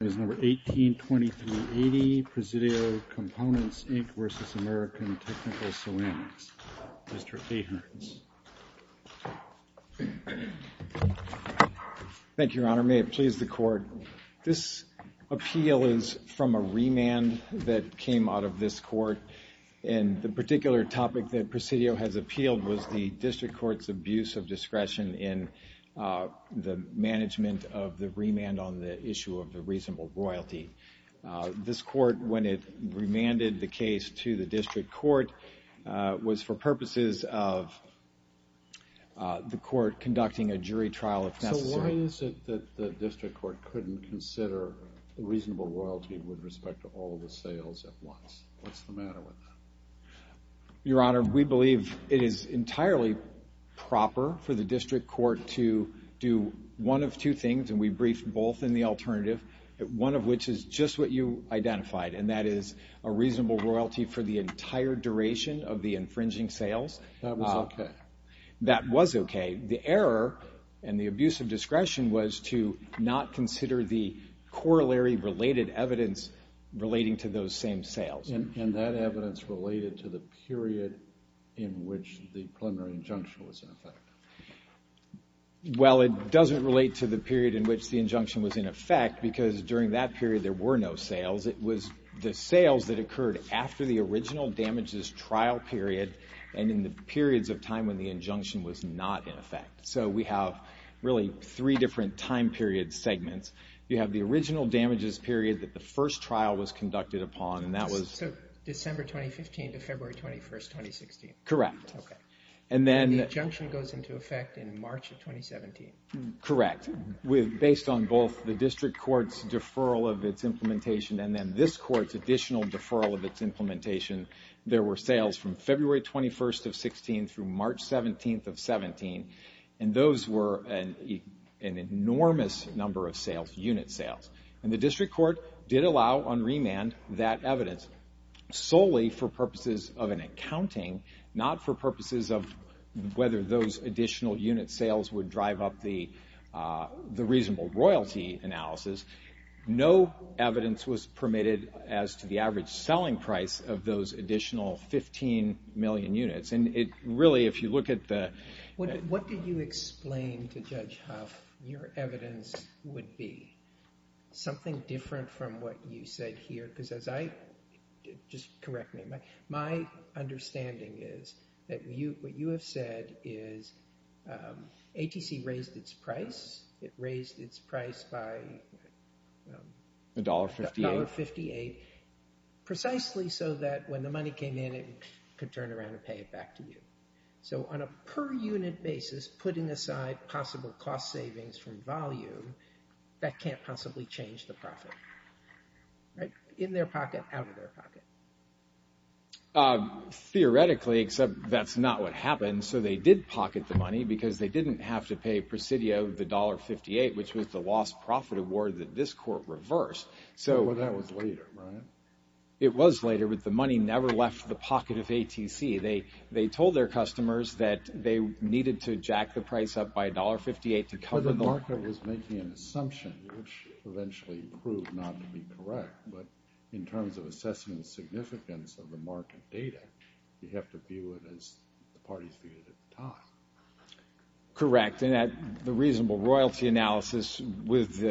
is number 182380 Presidio Components, Inc. v. American Technical Ceramics. Mr. Ahearns. Thank you, Your Honor. May it please the Court. This appeal is from a remand that came out of this Court, and the particular topic that Presidio has appealed was the District Court's abuse of reasonable royalty. This Court, when it remanded the case to the District Court, was for purposes of the Court conducting a jury trial, if necessary. So why is it that the District Court couldn't consider reasonable royalty with respect to all of the sales at once? What's the matter with that? Your Honor, we believe it is entirely proper for the District Court to do one of two things, and we believe one of which is just what you identified, and that is a reasonable royalty for the entire duration of the infringing sales. That was okay. That was okay. The error and the abuse of discretion was to not consider the corollary-related evidence relating to those same sales. And that evidence related to the period in which the preliminary injunction was in effect. Well, it doesn't relate to the period in which the injunction was in effect, because during that period there were no sales. It was the sales that occurred after the original damages trial period and in the periods of time when the injunction was not in effect. So we have really three different time period segments. You have the original damages period that the first trial was conducted upon, and that was... And the injunction goes into effect in March of 2017. Correct. Based on both the District Court's deferral of its implementation and then this Court's additional deferral of its implementation, there were sales from February 21st of 16 through March 17th of 17, and those were an enormous number of sales, unit sales. And the District Court did allow on remand that evidence solely for purposes of an accounting, not for purposes of whether those additional unit sales would drive up the reasonable royalty analysis. No evidence was permitted as to the average selling price of those additional 15 million units. And it really, if you look at the... What did you explain to Judge Huff your evidence would be? Something different from what you said here, because as I... Just correct me. My understanding is that what you have said is ATC raised its price. It raised its price by... $1.58. $1.58. Precisely so that when the money came in it could turn around and pay it back to you. So on a per unit basis, putting aside possible cost savings from volume, that can't possibly change the profit. In their pocket, out of their pocket. Theoretically, except that's not what happened, so they did pocket the money because they didn't have to pay presidio the $1.58, which was the lost profit award that this Court reversed. That was later, right? It was later, but the money never left the pocket of ATC. They told their customers that they needed to jack the price up by $1.58 to cover... The market was making an assumption, which eventually proved not to be correct. But in terms of assessing the significance of the market data, you have to view it as the parties viewed it at the time. Correct. And the reasonable royalty analysis with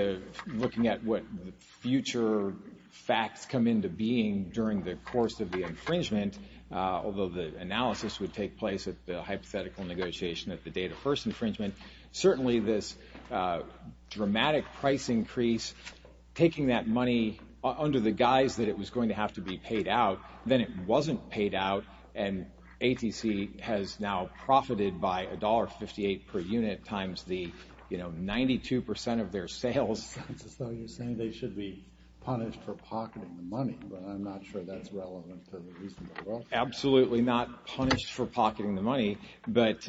looking at what future facts come into being during the course of the infringement, although the analysis would take place at the hypothetical negotiation at the date of first infringement, certainly this dramatic price increase, taking that money under the guise that it was going to have to be by $1.58 per unit times the 92% of their sales. So you're saying they should be punished for pocketing the money, but I'm not sure that's relevant to the reasonable royalty. Absolutely not punished for pocketing the money, but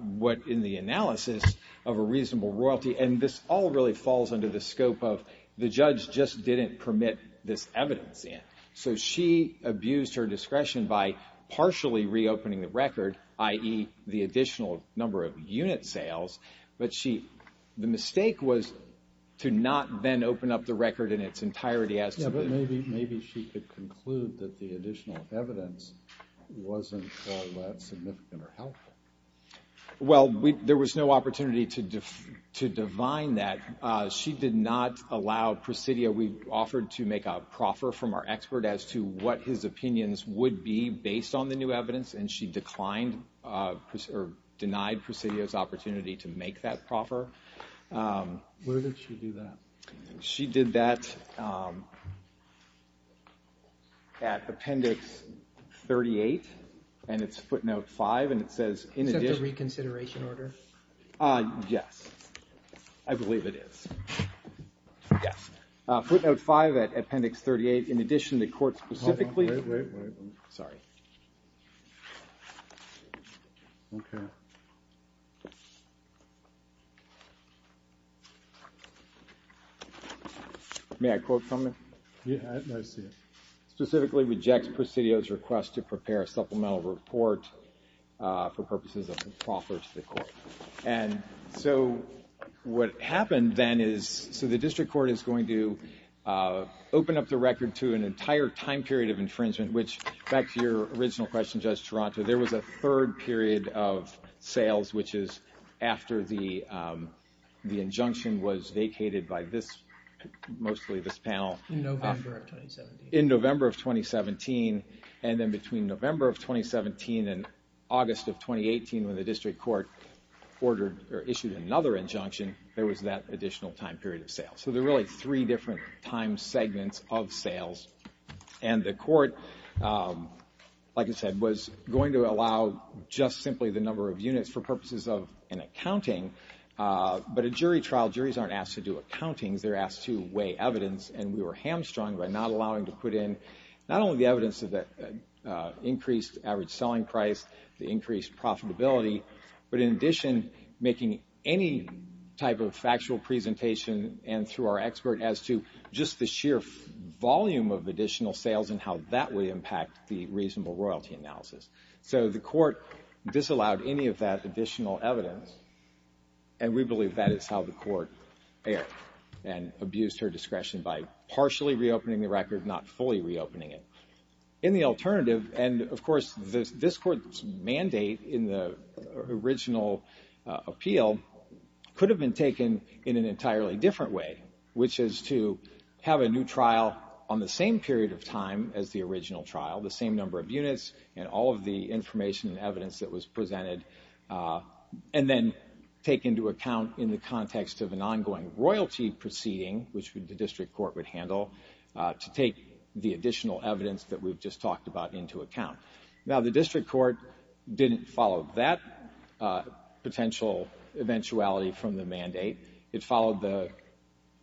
what in the analysis of a reasonable royalty, and this all really falls under the scope of the judge just didn't permit this evidence in. So she abused her discretion by partially reopening the record, i.e. the additional number of unit sales, but the mistake was to not then open up the record in its entirety. Yeah, but maybe she could conclude that the additional evidence wasn't all that significant or helpful. Well, there was no opportunity to divine that. She did not allow Presidio. We offered to make a proffer from our expert as to what his opinions would be based on the new evidence, and she declined or denied Presidio's opportunity to make that proffer. Where did she do that? She did that at Appendix 38, and it's footnote 5, and it says, Is that the reconsideration order? Yes, I believe it is. Yes. Footnote 5 at Appendix 38. In addition, the court specifically... Wait, wait, wait. Sorry. Okay. May I quote from it? Yeah, I see it. Specifically rejects Presidio's request to prepare a supplemental report for purposes of a proffer to the court. And so what happened then is... So the district court is going to open up the record to an entire time period of infringement, which, back to your original question, Judge Toronto, there was a third period of sales, which is after the injunction was vacated by mostly this panel. In November of 2017. And then between November of 2017 and August of 2018, when the district court issued another injunction, there was that additional time period of sales. So there are really three different time segments of sales. And the court, like I said, was going to allow just simply the number of units for purposes of an accounting. But a jury trial, juries aren't asked to do accountings. They're asked to weigh evidence, and we were hamstrung by not allowing to put in not only the evidence of the increased average selling price, the increased profitability, but in addition, making any type of factual presentation and through our expert as to just the sheer volume of additional sales and how that would impact the reasonable royalty analysis. So the court disallowed any of that additional evidence, and we believe that is how the court erred and abused her discretion by partially reopening the record, not fully reopening it. In the alternative, and of course, this court's mandate in the original appeal could have been taken in an entirely different way, which is to have a new trial on the same period of time as the original trial, the same number of units and all of the information and evidence that was presented, and then take into account in the context of an ongoing royalty proceeding, which the district court would handle, to take the additional evidence that we've just talked about into account. Now, the district court didn't follow that potential eventuality from the mandate. It followed the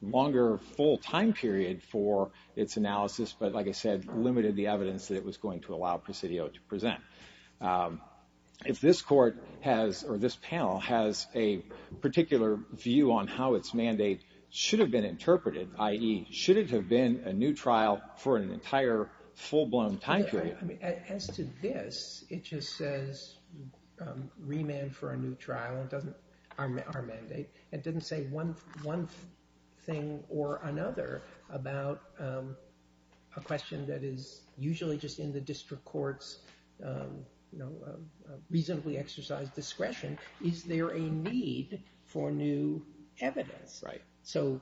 longer full time period for its analysis, but like I said, limited the evidence that it was going to allow Presidio to present. If this panel has a particular view on how its mandate should have been interpreted, i.e., should it have been a new trial for an entire full blown time period? As to this, it just says remand for a new trial, our mandate. It doesn't say one thing or another about a question that is usually just in the district court's reasonably exercised discretion. Is there a need for new evidence? So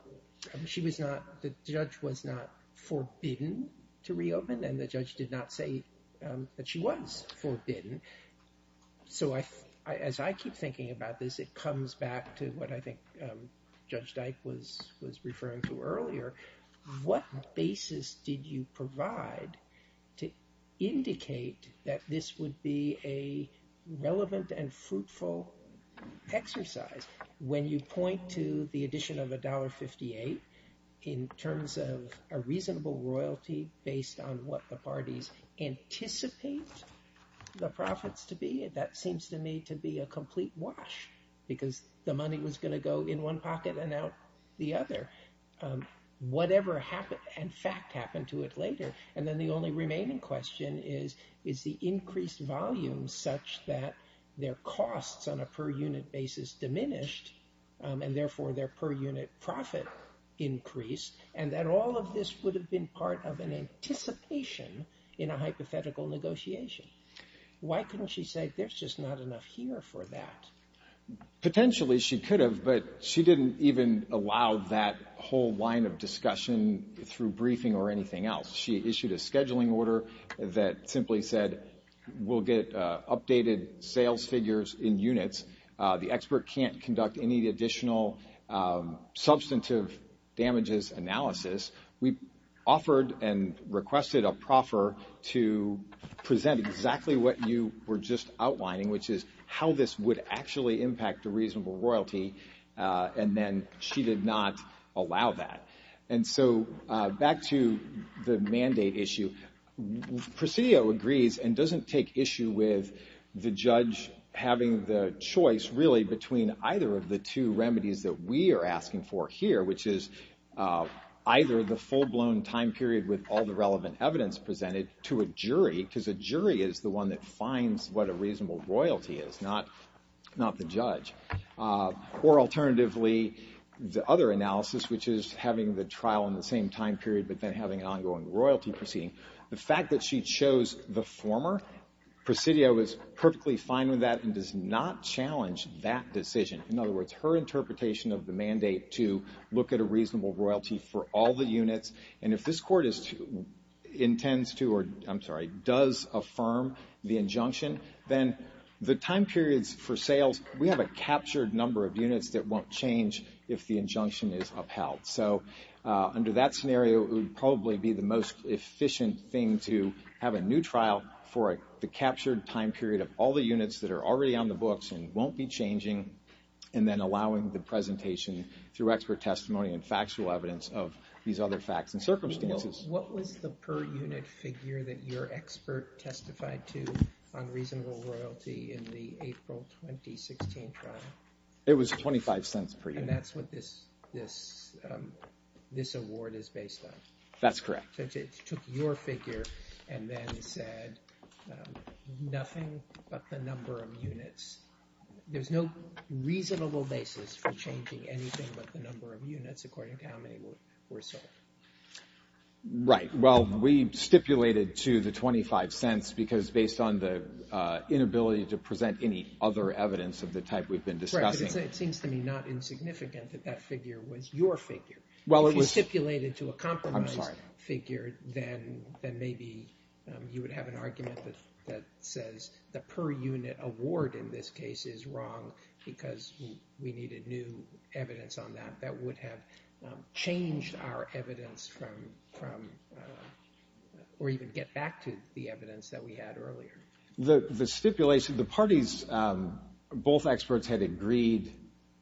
the judge was not forbidden to reopen, and the judge did not say that she was forbidden. So as I keep thinking about this, it comes back to what I think Judge Dyke was referring to earlier. What basis did you provide to indicate that this would be a relevant and fruitful exercise? When you point to the addition of $1.58 in terms of a reasonable royalty based on what the parties anticipate the profits to be, that seems to me to be a complete wash because the money was going to go in one pocket and out the other. Whatever fact happened to it later? And then the only remaining question is, is the increased volume such that their costs on a per unit basis diminished and therefore their per unit profit increased and that all of this would have been part of an anticipation in a hypothetical negotiation? Why couldn't she say there's just not enough here for that? Potentially she could have, but she didn't even allow that whole line of discussion through briefing or anything else. She issued a scheduling order that simply said we'll get updated sales figures in units. The expert can't conduct any additional substantive damages analysis. We offered and requested a proffer to present exactly what you were just outlining, which is how this would actually impact a reasonable royalty, and then she did not allow that. And so back to the mandate issue. Presidio agrees and doesn't take issue with the judge having the choice, really, between either of the two remedies that we are asking for here, which is either the full-blown time period with all the relevant evidence presented to a jury because a jury is the one that finds what a reasonable royalty is, not the judge, or alternatively the other analysis, which is having the trial in the same time period but then having an ongoing royalty proceeding. The fact that she chose the former, Presidio is perfectly fine with that and does not challenge that decision. In other words, her interpretation of the mandate to look at a reasonable royalty for all the units, and if this court intends to or, I'm sorry, does affirm the injunction, then the time periods for sales, we have a captured number of units that won't change if the injunction is upheld. So under that scenario, it would probably be the most efficient thing to have a new trial for the captured time period of all the units that are already on the books and won't be changing, and then allowing the presentation through expert testimony and factual evidence of these other facts and circumstances. What was the per-unit figure that your expert testified to on reasonable royalty in the April 2016 trial? It was $0.25 per unit. And that's what this award is based on? That's correct. It took your figure and then said nothing but the number of units. There's no reasonable basis for changing anything but the number of units according to how many were sold. Right. Well, we stipulated to the $0.25 because, based on the inability to present any other evidence of the type we've been discussing. It seems to me not insignificant that that figure was your figure. If it was stipulated to a compromised figure, then maybe you would have an argument that says the per-unit award in this case is wrong because we needed new evidence on that that would have changed our evidence from or even get back to the evidence that we had earlier. The stipulation, the parties, both experts had agreed,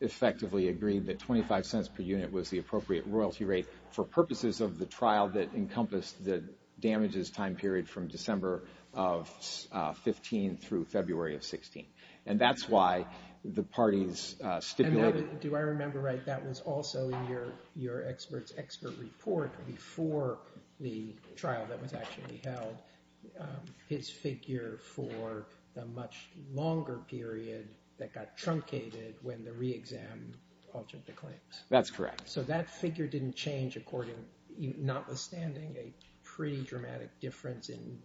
effectively agreed, that $0.25 per unit was the appropriate royalty rate for purposes of the trial that encompassed the damages time period from December of 2015 through February of 2016. And that's why the parties stipulated. Do I remember right? That was also in your expert's expert report before the trial that was actually held. His figure for the much longer period that got truncated when the re-exam altered the claims. That's correct. So that figure didn't change, notwithstanding a pretty dramatic difference in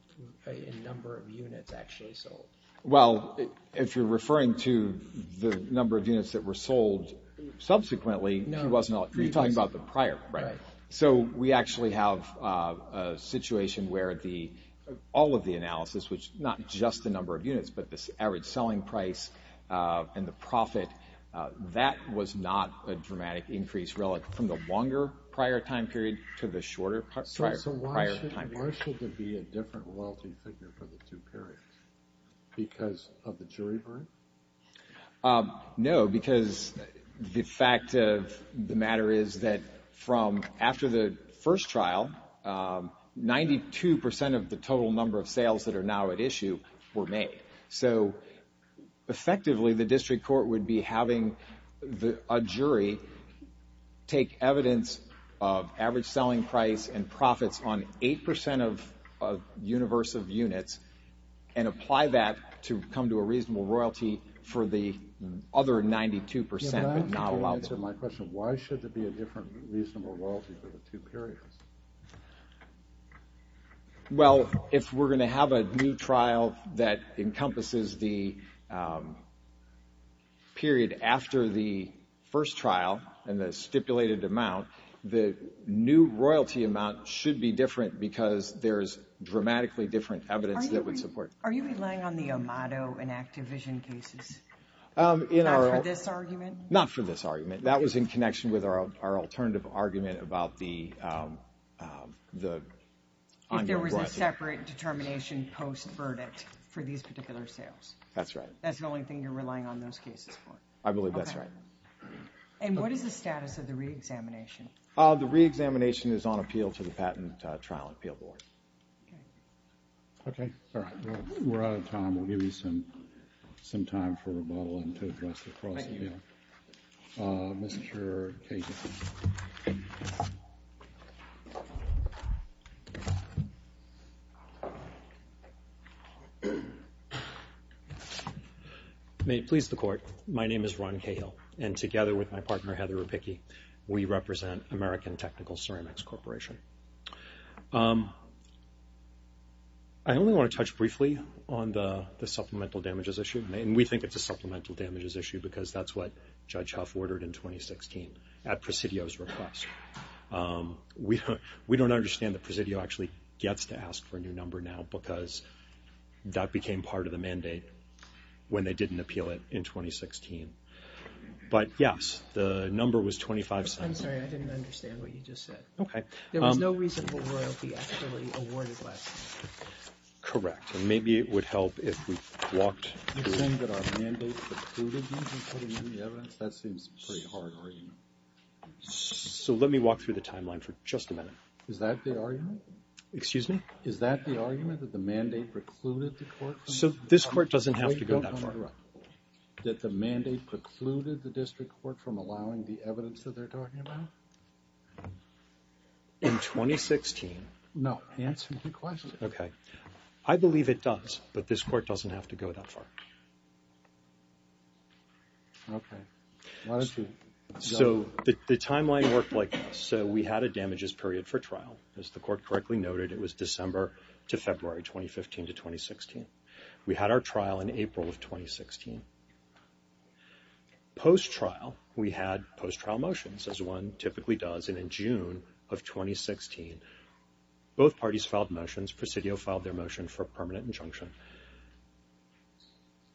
number of units actually sold. Well, if you're referring to the number of units that were sold subsequently, you're talking about the prior. Right. So we actually have a situation where all of the analysis, which not just the number of units, but the average selling price and the profit, that was not a dramatic increase relative from the longer prior time period to the shorter prior time period. So why shouldn't Marshall be a different royalty figure for the two periods? Because of the jury verdict? No, because the fact of the matter is that from after the first trial, 92% of the total number of sales that are now at issue were made. So effectively the district court would be having a jury take evidence of average selling price and profits on 8% of universe of units and apply that to come to a reasonable royalty for the other 92% but not allow them. To answer my question, why should there be a different reasonable royalty for the two periods? Well, if we're going to have a new trial that encompasses the period after the first trial and the stipulated amount, the new royalty amount should be different because there's dramatically different evidence that would support it. Are you relying on the Amato and Activision cases? Not for this argument? Not for this argument. That was in connection with our alternative argument about the ongoing royalty. If there was a separate determination post-verdict for these particular sales? That's right. That's the only thing you're relying on those cases for? I believe that's right. And what is the status of the re-examination? The re-examination is on appeal to the Patent Trial Appeal Board. Okay. We're out of time. We'll give you some time for rebuttal and to address the cross-appeal. Thank you. Mr. Cahill. May it please the Court. My name is Ron Cahill, and together with my partner, Heather Rapicki, we represent American Technical Ceramics Corporation. I only want to touch briefly on the supplemental damages issue, and we think it's a supplemental damages issue because that's what Judge Huff ordered in 2016 at Presidio's request. We don't understand that Presidio actually gets to ask for a new number now because that became part of the mandate when they didn't appeal it in 2016. But, yes, the number was $2,500. I'm sorry, I didn't understand what you just said. Okay. There was no reason for royalty actually awarded less. Correct. And maybe it would help if we walked through. You think that our mandate precluded you from putting in the evidence? That seems pretty hard already. So let me walk through the timeline for just a minute. Is that the argument? Excuse me? Is that the argument, that the mandate precluded the court from? So this court doesn't have to go that far. That the mandate precluded the district court from allowing the evidence that they're talking about? In 2016. No, answer my question. Okay. I believe it does, but this court doesn't have to go that far. Okay. So the timeline worked like this. So we had a damages period for trial. As the court correctly noted, it was December to February 2015 to 2016. We had our trial in April of 2016. Post-trial, we had post-trial motions, as one typically does. And in June of 2016, both parties filed motions. Presidio filed their motion for permanent injunction.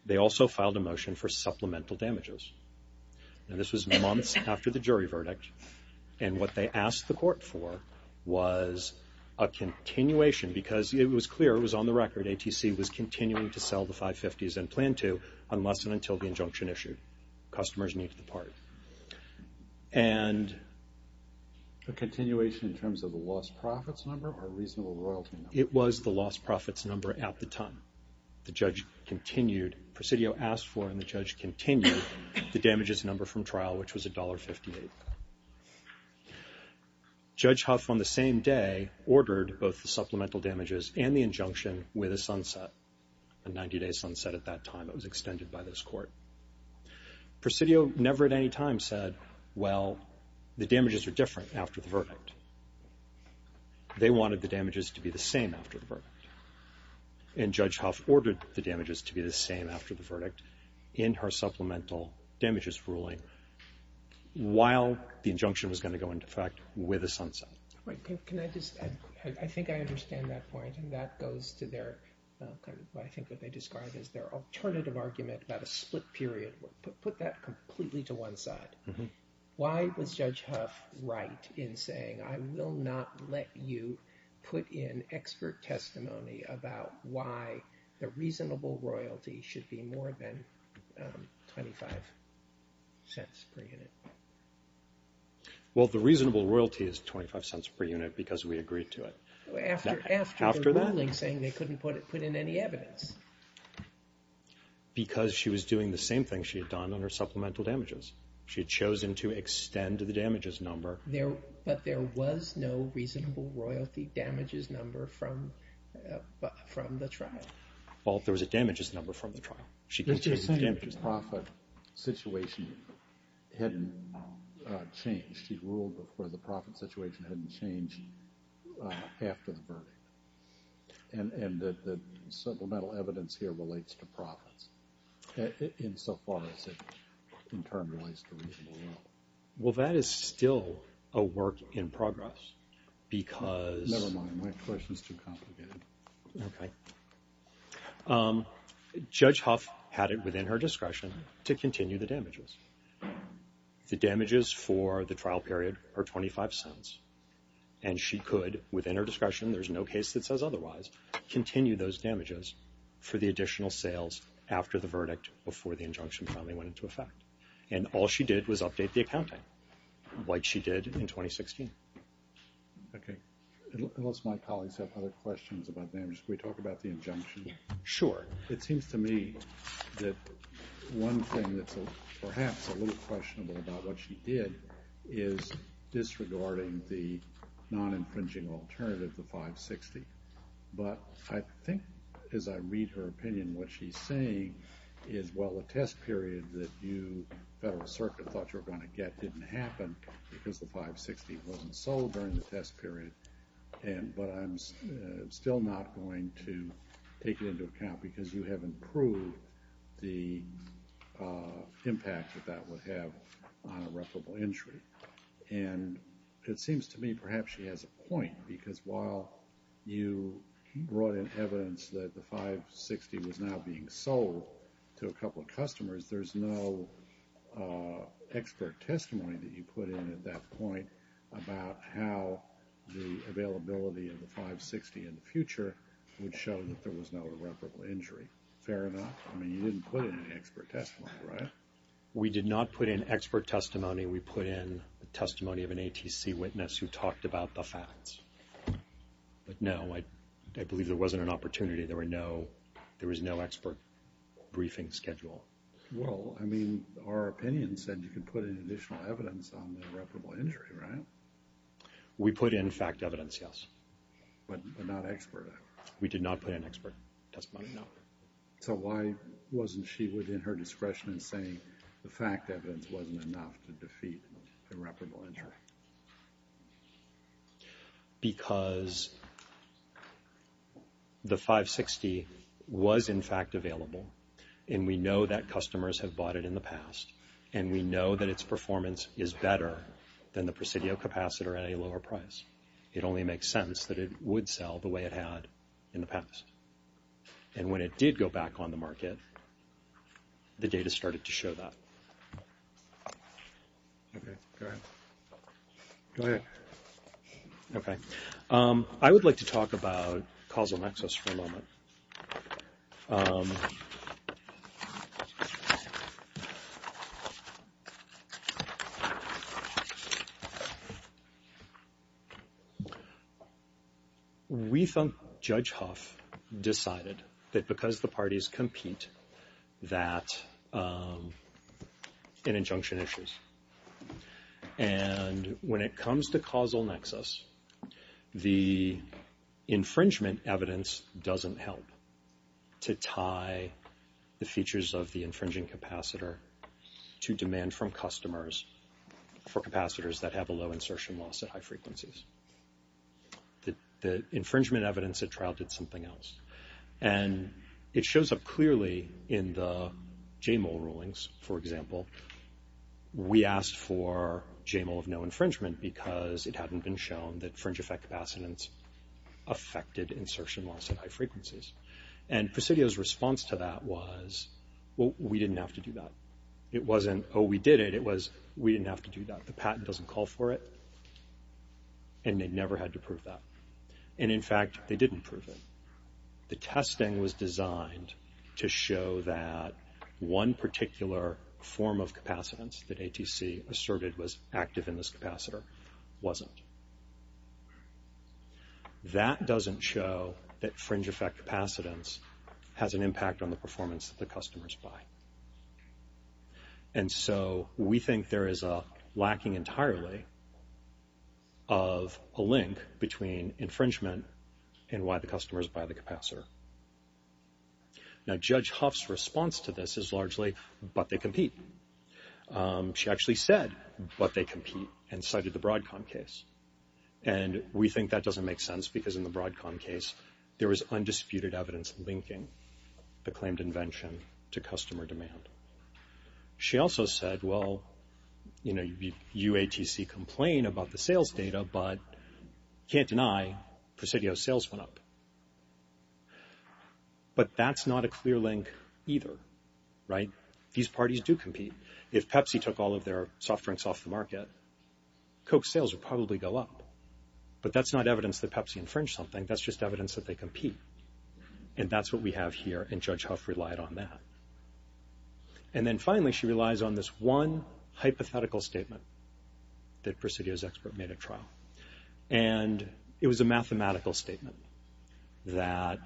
They also filed a motion for supplemental damages. And this was months after the jury verdict. And what they asked the court for was a continuation. Because it was clear, it was on the record, that ATC was continuing to sell the 550s and plan to unless and until the injunction issued. Customers need the part. And the continuation in terms of the lost profits number or reasonable royalty number? It was the lost profits number at the time. The judge continued. Presidio asked for, and the judge continued, the damages number from trial, which was $1.58. Judge Huff, on the same day, ordered both the supplemental damages and the injunction with a sunset, a 90-day sunset at that time. It was extended by this court. Presidio never at any time said, well, the damages are different after the verdict. They wanted the damages to be the same after the verdict. And Judge Huff ordered the damages to be the same after the verdict in her supplemental damages ruling, while the injunction was going to go into effect with a sunset. Can I just add, I think I understand that point, and that goes to their, I think what they described as their alternative argument about a split period. Put that completely to one side. Why was Judge Huff right in saying, I will not let you put in expert testimony about why the reasonable royalty should be more than $0.25 per unit? Well, the reasonable royalty is $0.25 per unit because we agreed to it. After that? After the ruling saying they couldn't put in any evidence. Because she was doing the same thing she had done on her supplemental damages. She had chosen to extend the damages number. But there was no reasonable royalty damages number from the trial. Well, there was a damages number from the trial. She's saying the profit situation hadn't changed. She ruled before the profit situation hadn't changed after the verdict. And the supplemental evidence here relates to profits, insofar as it in turn relates to reasonable wealth. Well, that is still a work in progress because – Never mind. My question is too complicated. Okay. Judge Huff had it within her discretion to continue the damages. The damages for the trial period are $0.25. And she could, within her discretion, there's no case that says otherwise, continue those damages for the additional sales after the verdict before the injunction finally went into effect. And all she did was update the accounting like she did in 2016. Okay. Unless my colleagues have other questions about damages, can we talk about the injunction? Sure. It seems to me that one thing that's perhaps a little questionable about what she did is disregarding the non-infringing alternative, the 560. But I think, as I read her opinion, what she's saying is, well, the test period that you, the Federal Circuit, thought you were going to get didn't happen because the 560 wasn't sold during the test period. But I'm still not going to take it into account because you haven't proved the impact that that would have on irreparable injury. And it seems to me perhaps she has a point, because while you brought in evidence that the 560 was now being sold to a couple of customers, there's no expert testimony that you put in at that point about how the availability of the 560 in the future would show that there was no irreparable injury. Fair enough? I mean, you didn't put in any expert testimony, right? We did not put in expert testimony. We put in the testimony of an ATC witness who talked about the facts. But no, I believe there wasn't an opportunity. There was no expert briefing schedule. Well, I mean, our opinion said you could put in additional evidence on the irreparable injury, right? We put in fact evidence, yes. But not expert? We did not put in expert testimony, no. So why wasn't she within her discretion in saying the fact evidence wasn't enough to defeat irreparable injury? Because the 560 was in fact available, and we know that customers have bought it in the past, and we know that its performance is better than the Presidio Capacitor at a lower price. It only makes sense that it would sell the way it had in the past. And when it did go back on the market, the data started to show that. Okay, go ahead. Go ahead. Okay. I would like to talk about causal nexus for a moment. We think Judge Huff decided that because the parties compete that in injunction issues. And when it comes to causal nexus, the infringement evidence doesn't help to tie the features of the infringing capacitor to demand from customers for capacitors that have a low insertion loss at high frequencies. The infringement evidence at trial did something else. And it shows up clearly in the J-Mole rulings, for example. We asked for J-Mole of no infringement because it hadn't been shown that fringe effect capacitance affected insertion loss at high frequencies. And Presidio's response to that was, well, we didn't have to do that. It wasn't, oh, we did it. It was, we didn't have to do that. The patent doesn't call for it. And they never had to prove that. And in fact, they didn't prove it. The testing was designed to show that one particular form of capacitance that ATC asserted was active in this capacitor wasn't. That doesn't show that fringe effect capacitance has an impact on the performance that the customers buy. And so we think there is a lacking entirely of a link between infringement and why the customers buy the capacitor. Now, Judge Huff's response to this is largely, but they compete. She actually said, but they compete, and cited the Broadcom case. And we think that doesn't make sense because in the Broadcom case, there was undisputed evidence linking the claimed invention to customer demand. She also said, well, you know, you ATC complain about the sales data, but can't deny Presidio sales went up. But that's not a clear link either, right? These parties do compete. If Pepsi took all of their soft drinks off the market, Coke sales would probably go up. But that's not evidence that Pepsi infringed something. That's just evidence that they compete. And that's what we have here, and Judge Huff relied on that. And then finally, she relies on this one hypothetical statement that Presidio's expert made at trial. And it was a mathematical statement that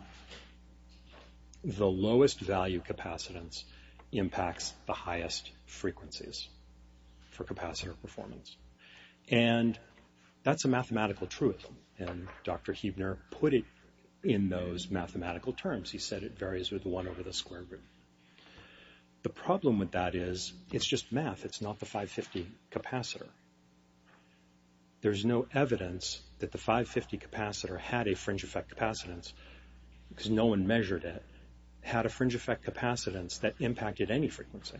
the lowest value capacitance impacts the highest frequencies for capacitor performance. And that's a mathematical truth, and Dr. Huebner put it in those mathematical terms. He said it varies with one over the square root. The problem with that is it's just math. It's not the 550 capacitor. There's no evidence that the 550 capacitor had a fringe effect capacitance because no one measured it, had a fringe effect capacitance that impacted any frequency,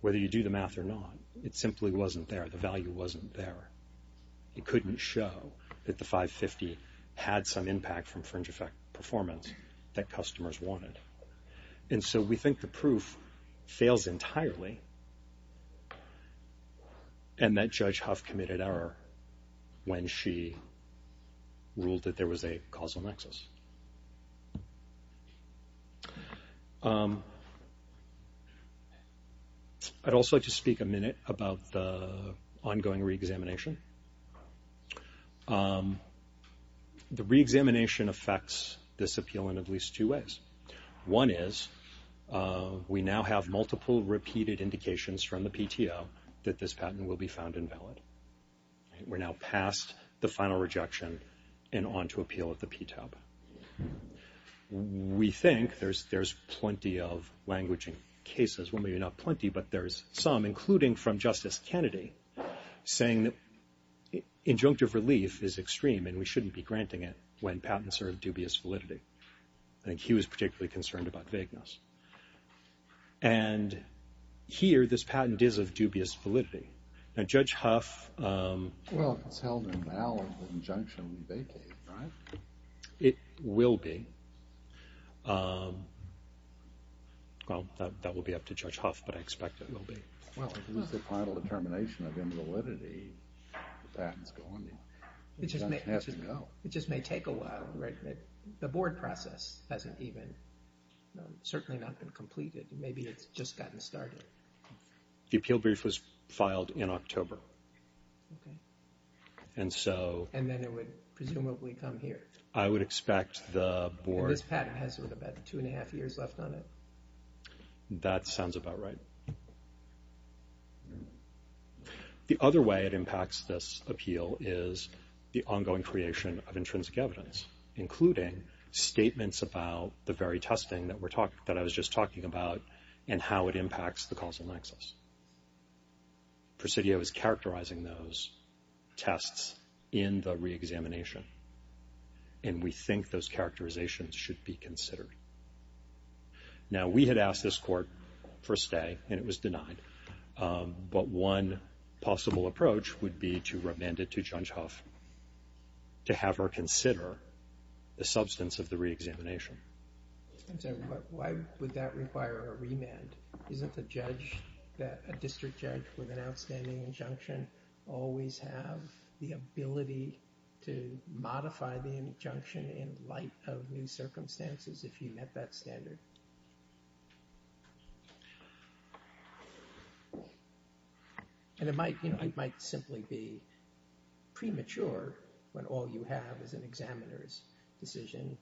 whether you do the math or not. It simply wasn't there. The value wasn't there. It couldn't show that the 550 had some impact from fringe effect performance that customers wanted. And so we think the proof fails entirely, and that Judge Huff committed error when she ruled that there was a causal nexus. I'd also like to speak a minute about the ongoing reexamination. The reexamination affects this appeal in at least two ways. One is we now have multiple repeated indications from the PTO that this patent will be found invalid. We're now past the final rejection and on to appeal at the PTOB. We think there's plenty of languaging cases. Well, maybe not plenty, but there's some, including from Justice Kennedy, saying that injunctive relief is extreme and we shouldn't be granting it when patents are of dubious validity. I think he was particularly concerned about vagueness. And here this patent is of dubious validity. Now, Judge Huff… Well, if it's held invalid, the injunction will be vacated, right? It will be. Well, that will be up to Judge Huff, but I expect it will be. Well, if this is the final determination of invalidity, the patent's going to have to go. It just may take a while, right? The board process hasn't even, certainly not been completed. Maybe it's just gotten started. The appeal brief was filed in October. Okay. And so… And then it would presumably come here. I would expect the board… And this patent has about two and a half years left on it. That sounds about right. The other way it impacts this appeal is the ongoing creation of intrinsic evidence, including statements about the very testing that I was just talking about and how it impacts the causal nexus. Presidio is characterizing those tests in the reexamination, and we think those characterizations should be considered. Now, we had asked this court for a stay, and it was denied, but one possible approach would be to remand it to Judge Huff to have her consider the substance of the reexamination. I'm sorry, but why would that require a remand? Isn't the judge, a district judge with an outstanding injunction, always have the ability to modify the injunction in light of new circumstances if you met that standard? And it might simply be premature when all you have is an examiner's decision,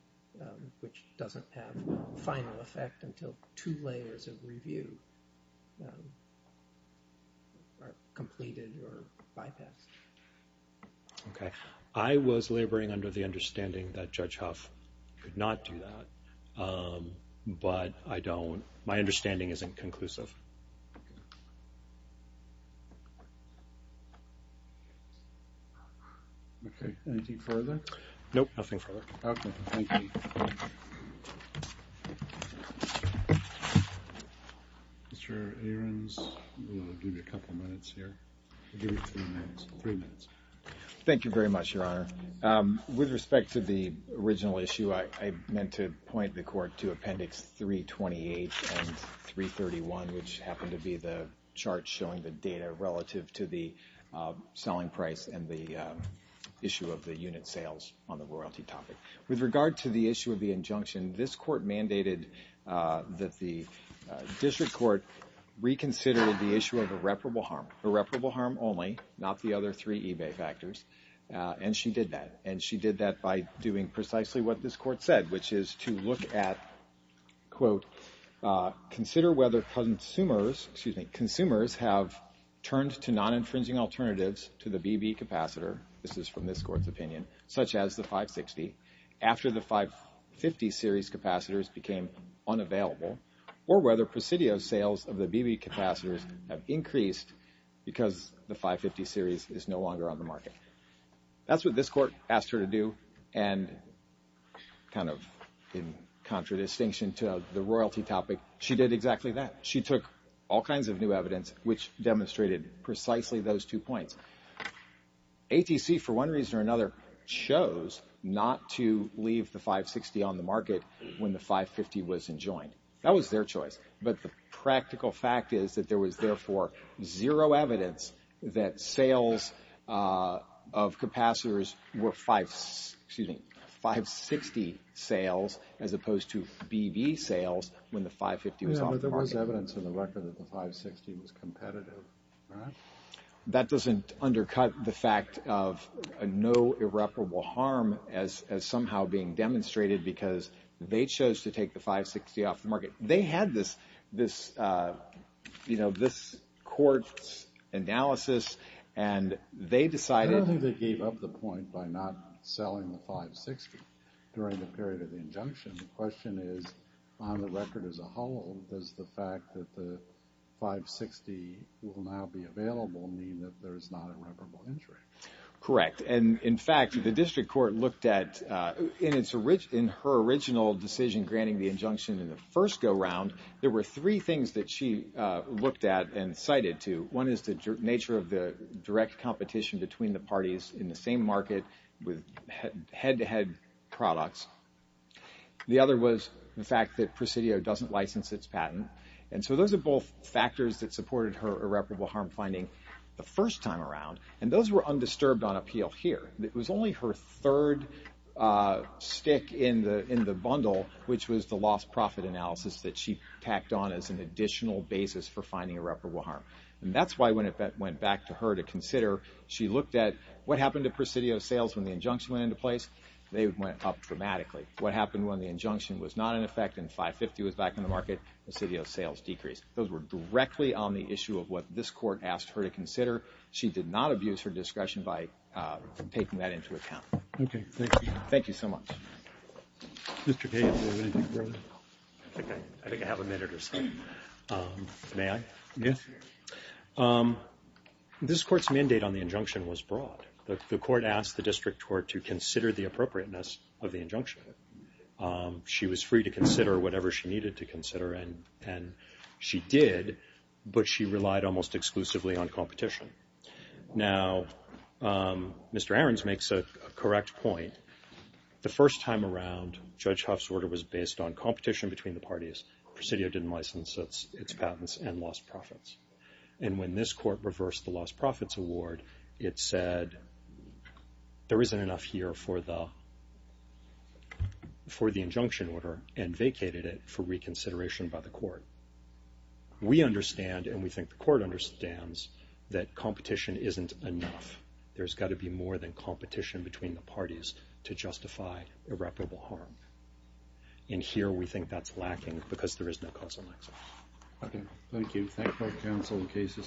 which doesn't have a final effect until two layers of review are completed or bypassed. Okay. I was laboring under the understanding that Judge Huff could not do that, but my understanding isn't conclusive. Okay. Anything further? Nope, nothing further. Okay. Thank you. Mr. Ahrens, we'll give you a couple minutes here. We'll give you three minutes. Thank you very much, Your Honor. With respect to the original issue, I meant to point the court to Appendix 328 and 331, which happened to be the chart showing the data relative to the selling price and the issue of the unit sales on the royalty topic. With regard to the issue of the injunction, this court mandated that the district court reconsider the issue of irreparable harm, irreparable harm only, not the other three eBay factors, and she did that. And she did that by doing precisely what this court said, which is to look at, quote, consider whether consumers have turned to non-infringing alternatives to the BB capacitor, this is from this court's opinion, such as the 560, after the 550 series capacitors became unavailable, or whether Presidio's sales of the BB capacitors have increased because the 550 series is no longer on the market. That's what this court asked her to do, and kind of in contradistinction to the royalty topic, she did exactly that. She took all kinds of new evidence, which demonstrated precisely those two points. ATC, for one reason or another, chose not to leave the 560 on the market when the 550 was enjoined. That was their choice, but the practical fact is that there was, therefore, zero evidence that sales of capacitors were 560 sales as opposed to BB sales when the 550 was off the market. Yeah, but there was evidence in the record that the 560 was competitive, right? That doesn't undercut the fact of no irreparable harm as somehow being demonstrated because they chose to take the 560 off the market. They had this court's analysis, and they decided— I don't think they gave up the point by not selling the 560 during the period of the injunction. The question is, on the record as a whole, does the fact that the 560 will now be available mean that there is not irreparable injury? Correct, and in fact, the district court looked at— in her original decision granting the injunction in the first go-round, there were three things that she looked at and cited to. One is the nature of the direct competition between the parties in the same market with head-to-head products. The other was the fact that Presidio doesn't license its patent, and so those are both factors that supported her irreparable harm finding the first time around, and those were undisturbed on appeal here. It was only her third stick in the bundle, which was the lost profit analysis that she tacked on as an additional basis for finding irreparable harm, and that's why when it went back to her to consider, she looked at what happened to Presidio's sales when the injunction went into place. They went up dramatically. What happened when the injunction was not in effect and 550 was back in the market? Presidio's sales decreased. Those were directly on the issue of what this court asked her to consider. She did not abuse her discretion by taking that into account. Okay, thank you. Thank you so much. Mr. Kagan, do you have anything further? I think I have a minute or so. May I? Yes. This court's mandate on the injunction was broad. The court asked the district court to consider the appropriateness of the injunction. She was free to consider whatever she needed to consider, and she did, but she relied almost exclusively on competition. Now, Mr. Ahrens makes a correct point. The first time around, Judge Huff's order was based on competition between the parties. Presidio didn't license its patents and lost profits. And when this court reversed the lost profits award, it said there isn't enough here for the injunction order and vacated it for reconsideration by the court. We understand, and we think the court understands, that competition isn't enough. There's got to be more than competition between the parties to justify irreparable harm. And here we think that's lacking because there is no causal link. Okay. Thank you. Thank both counsel. The case is submitted.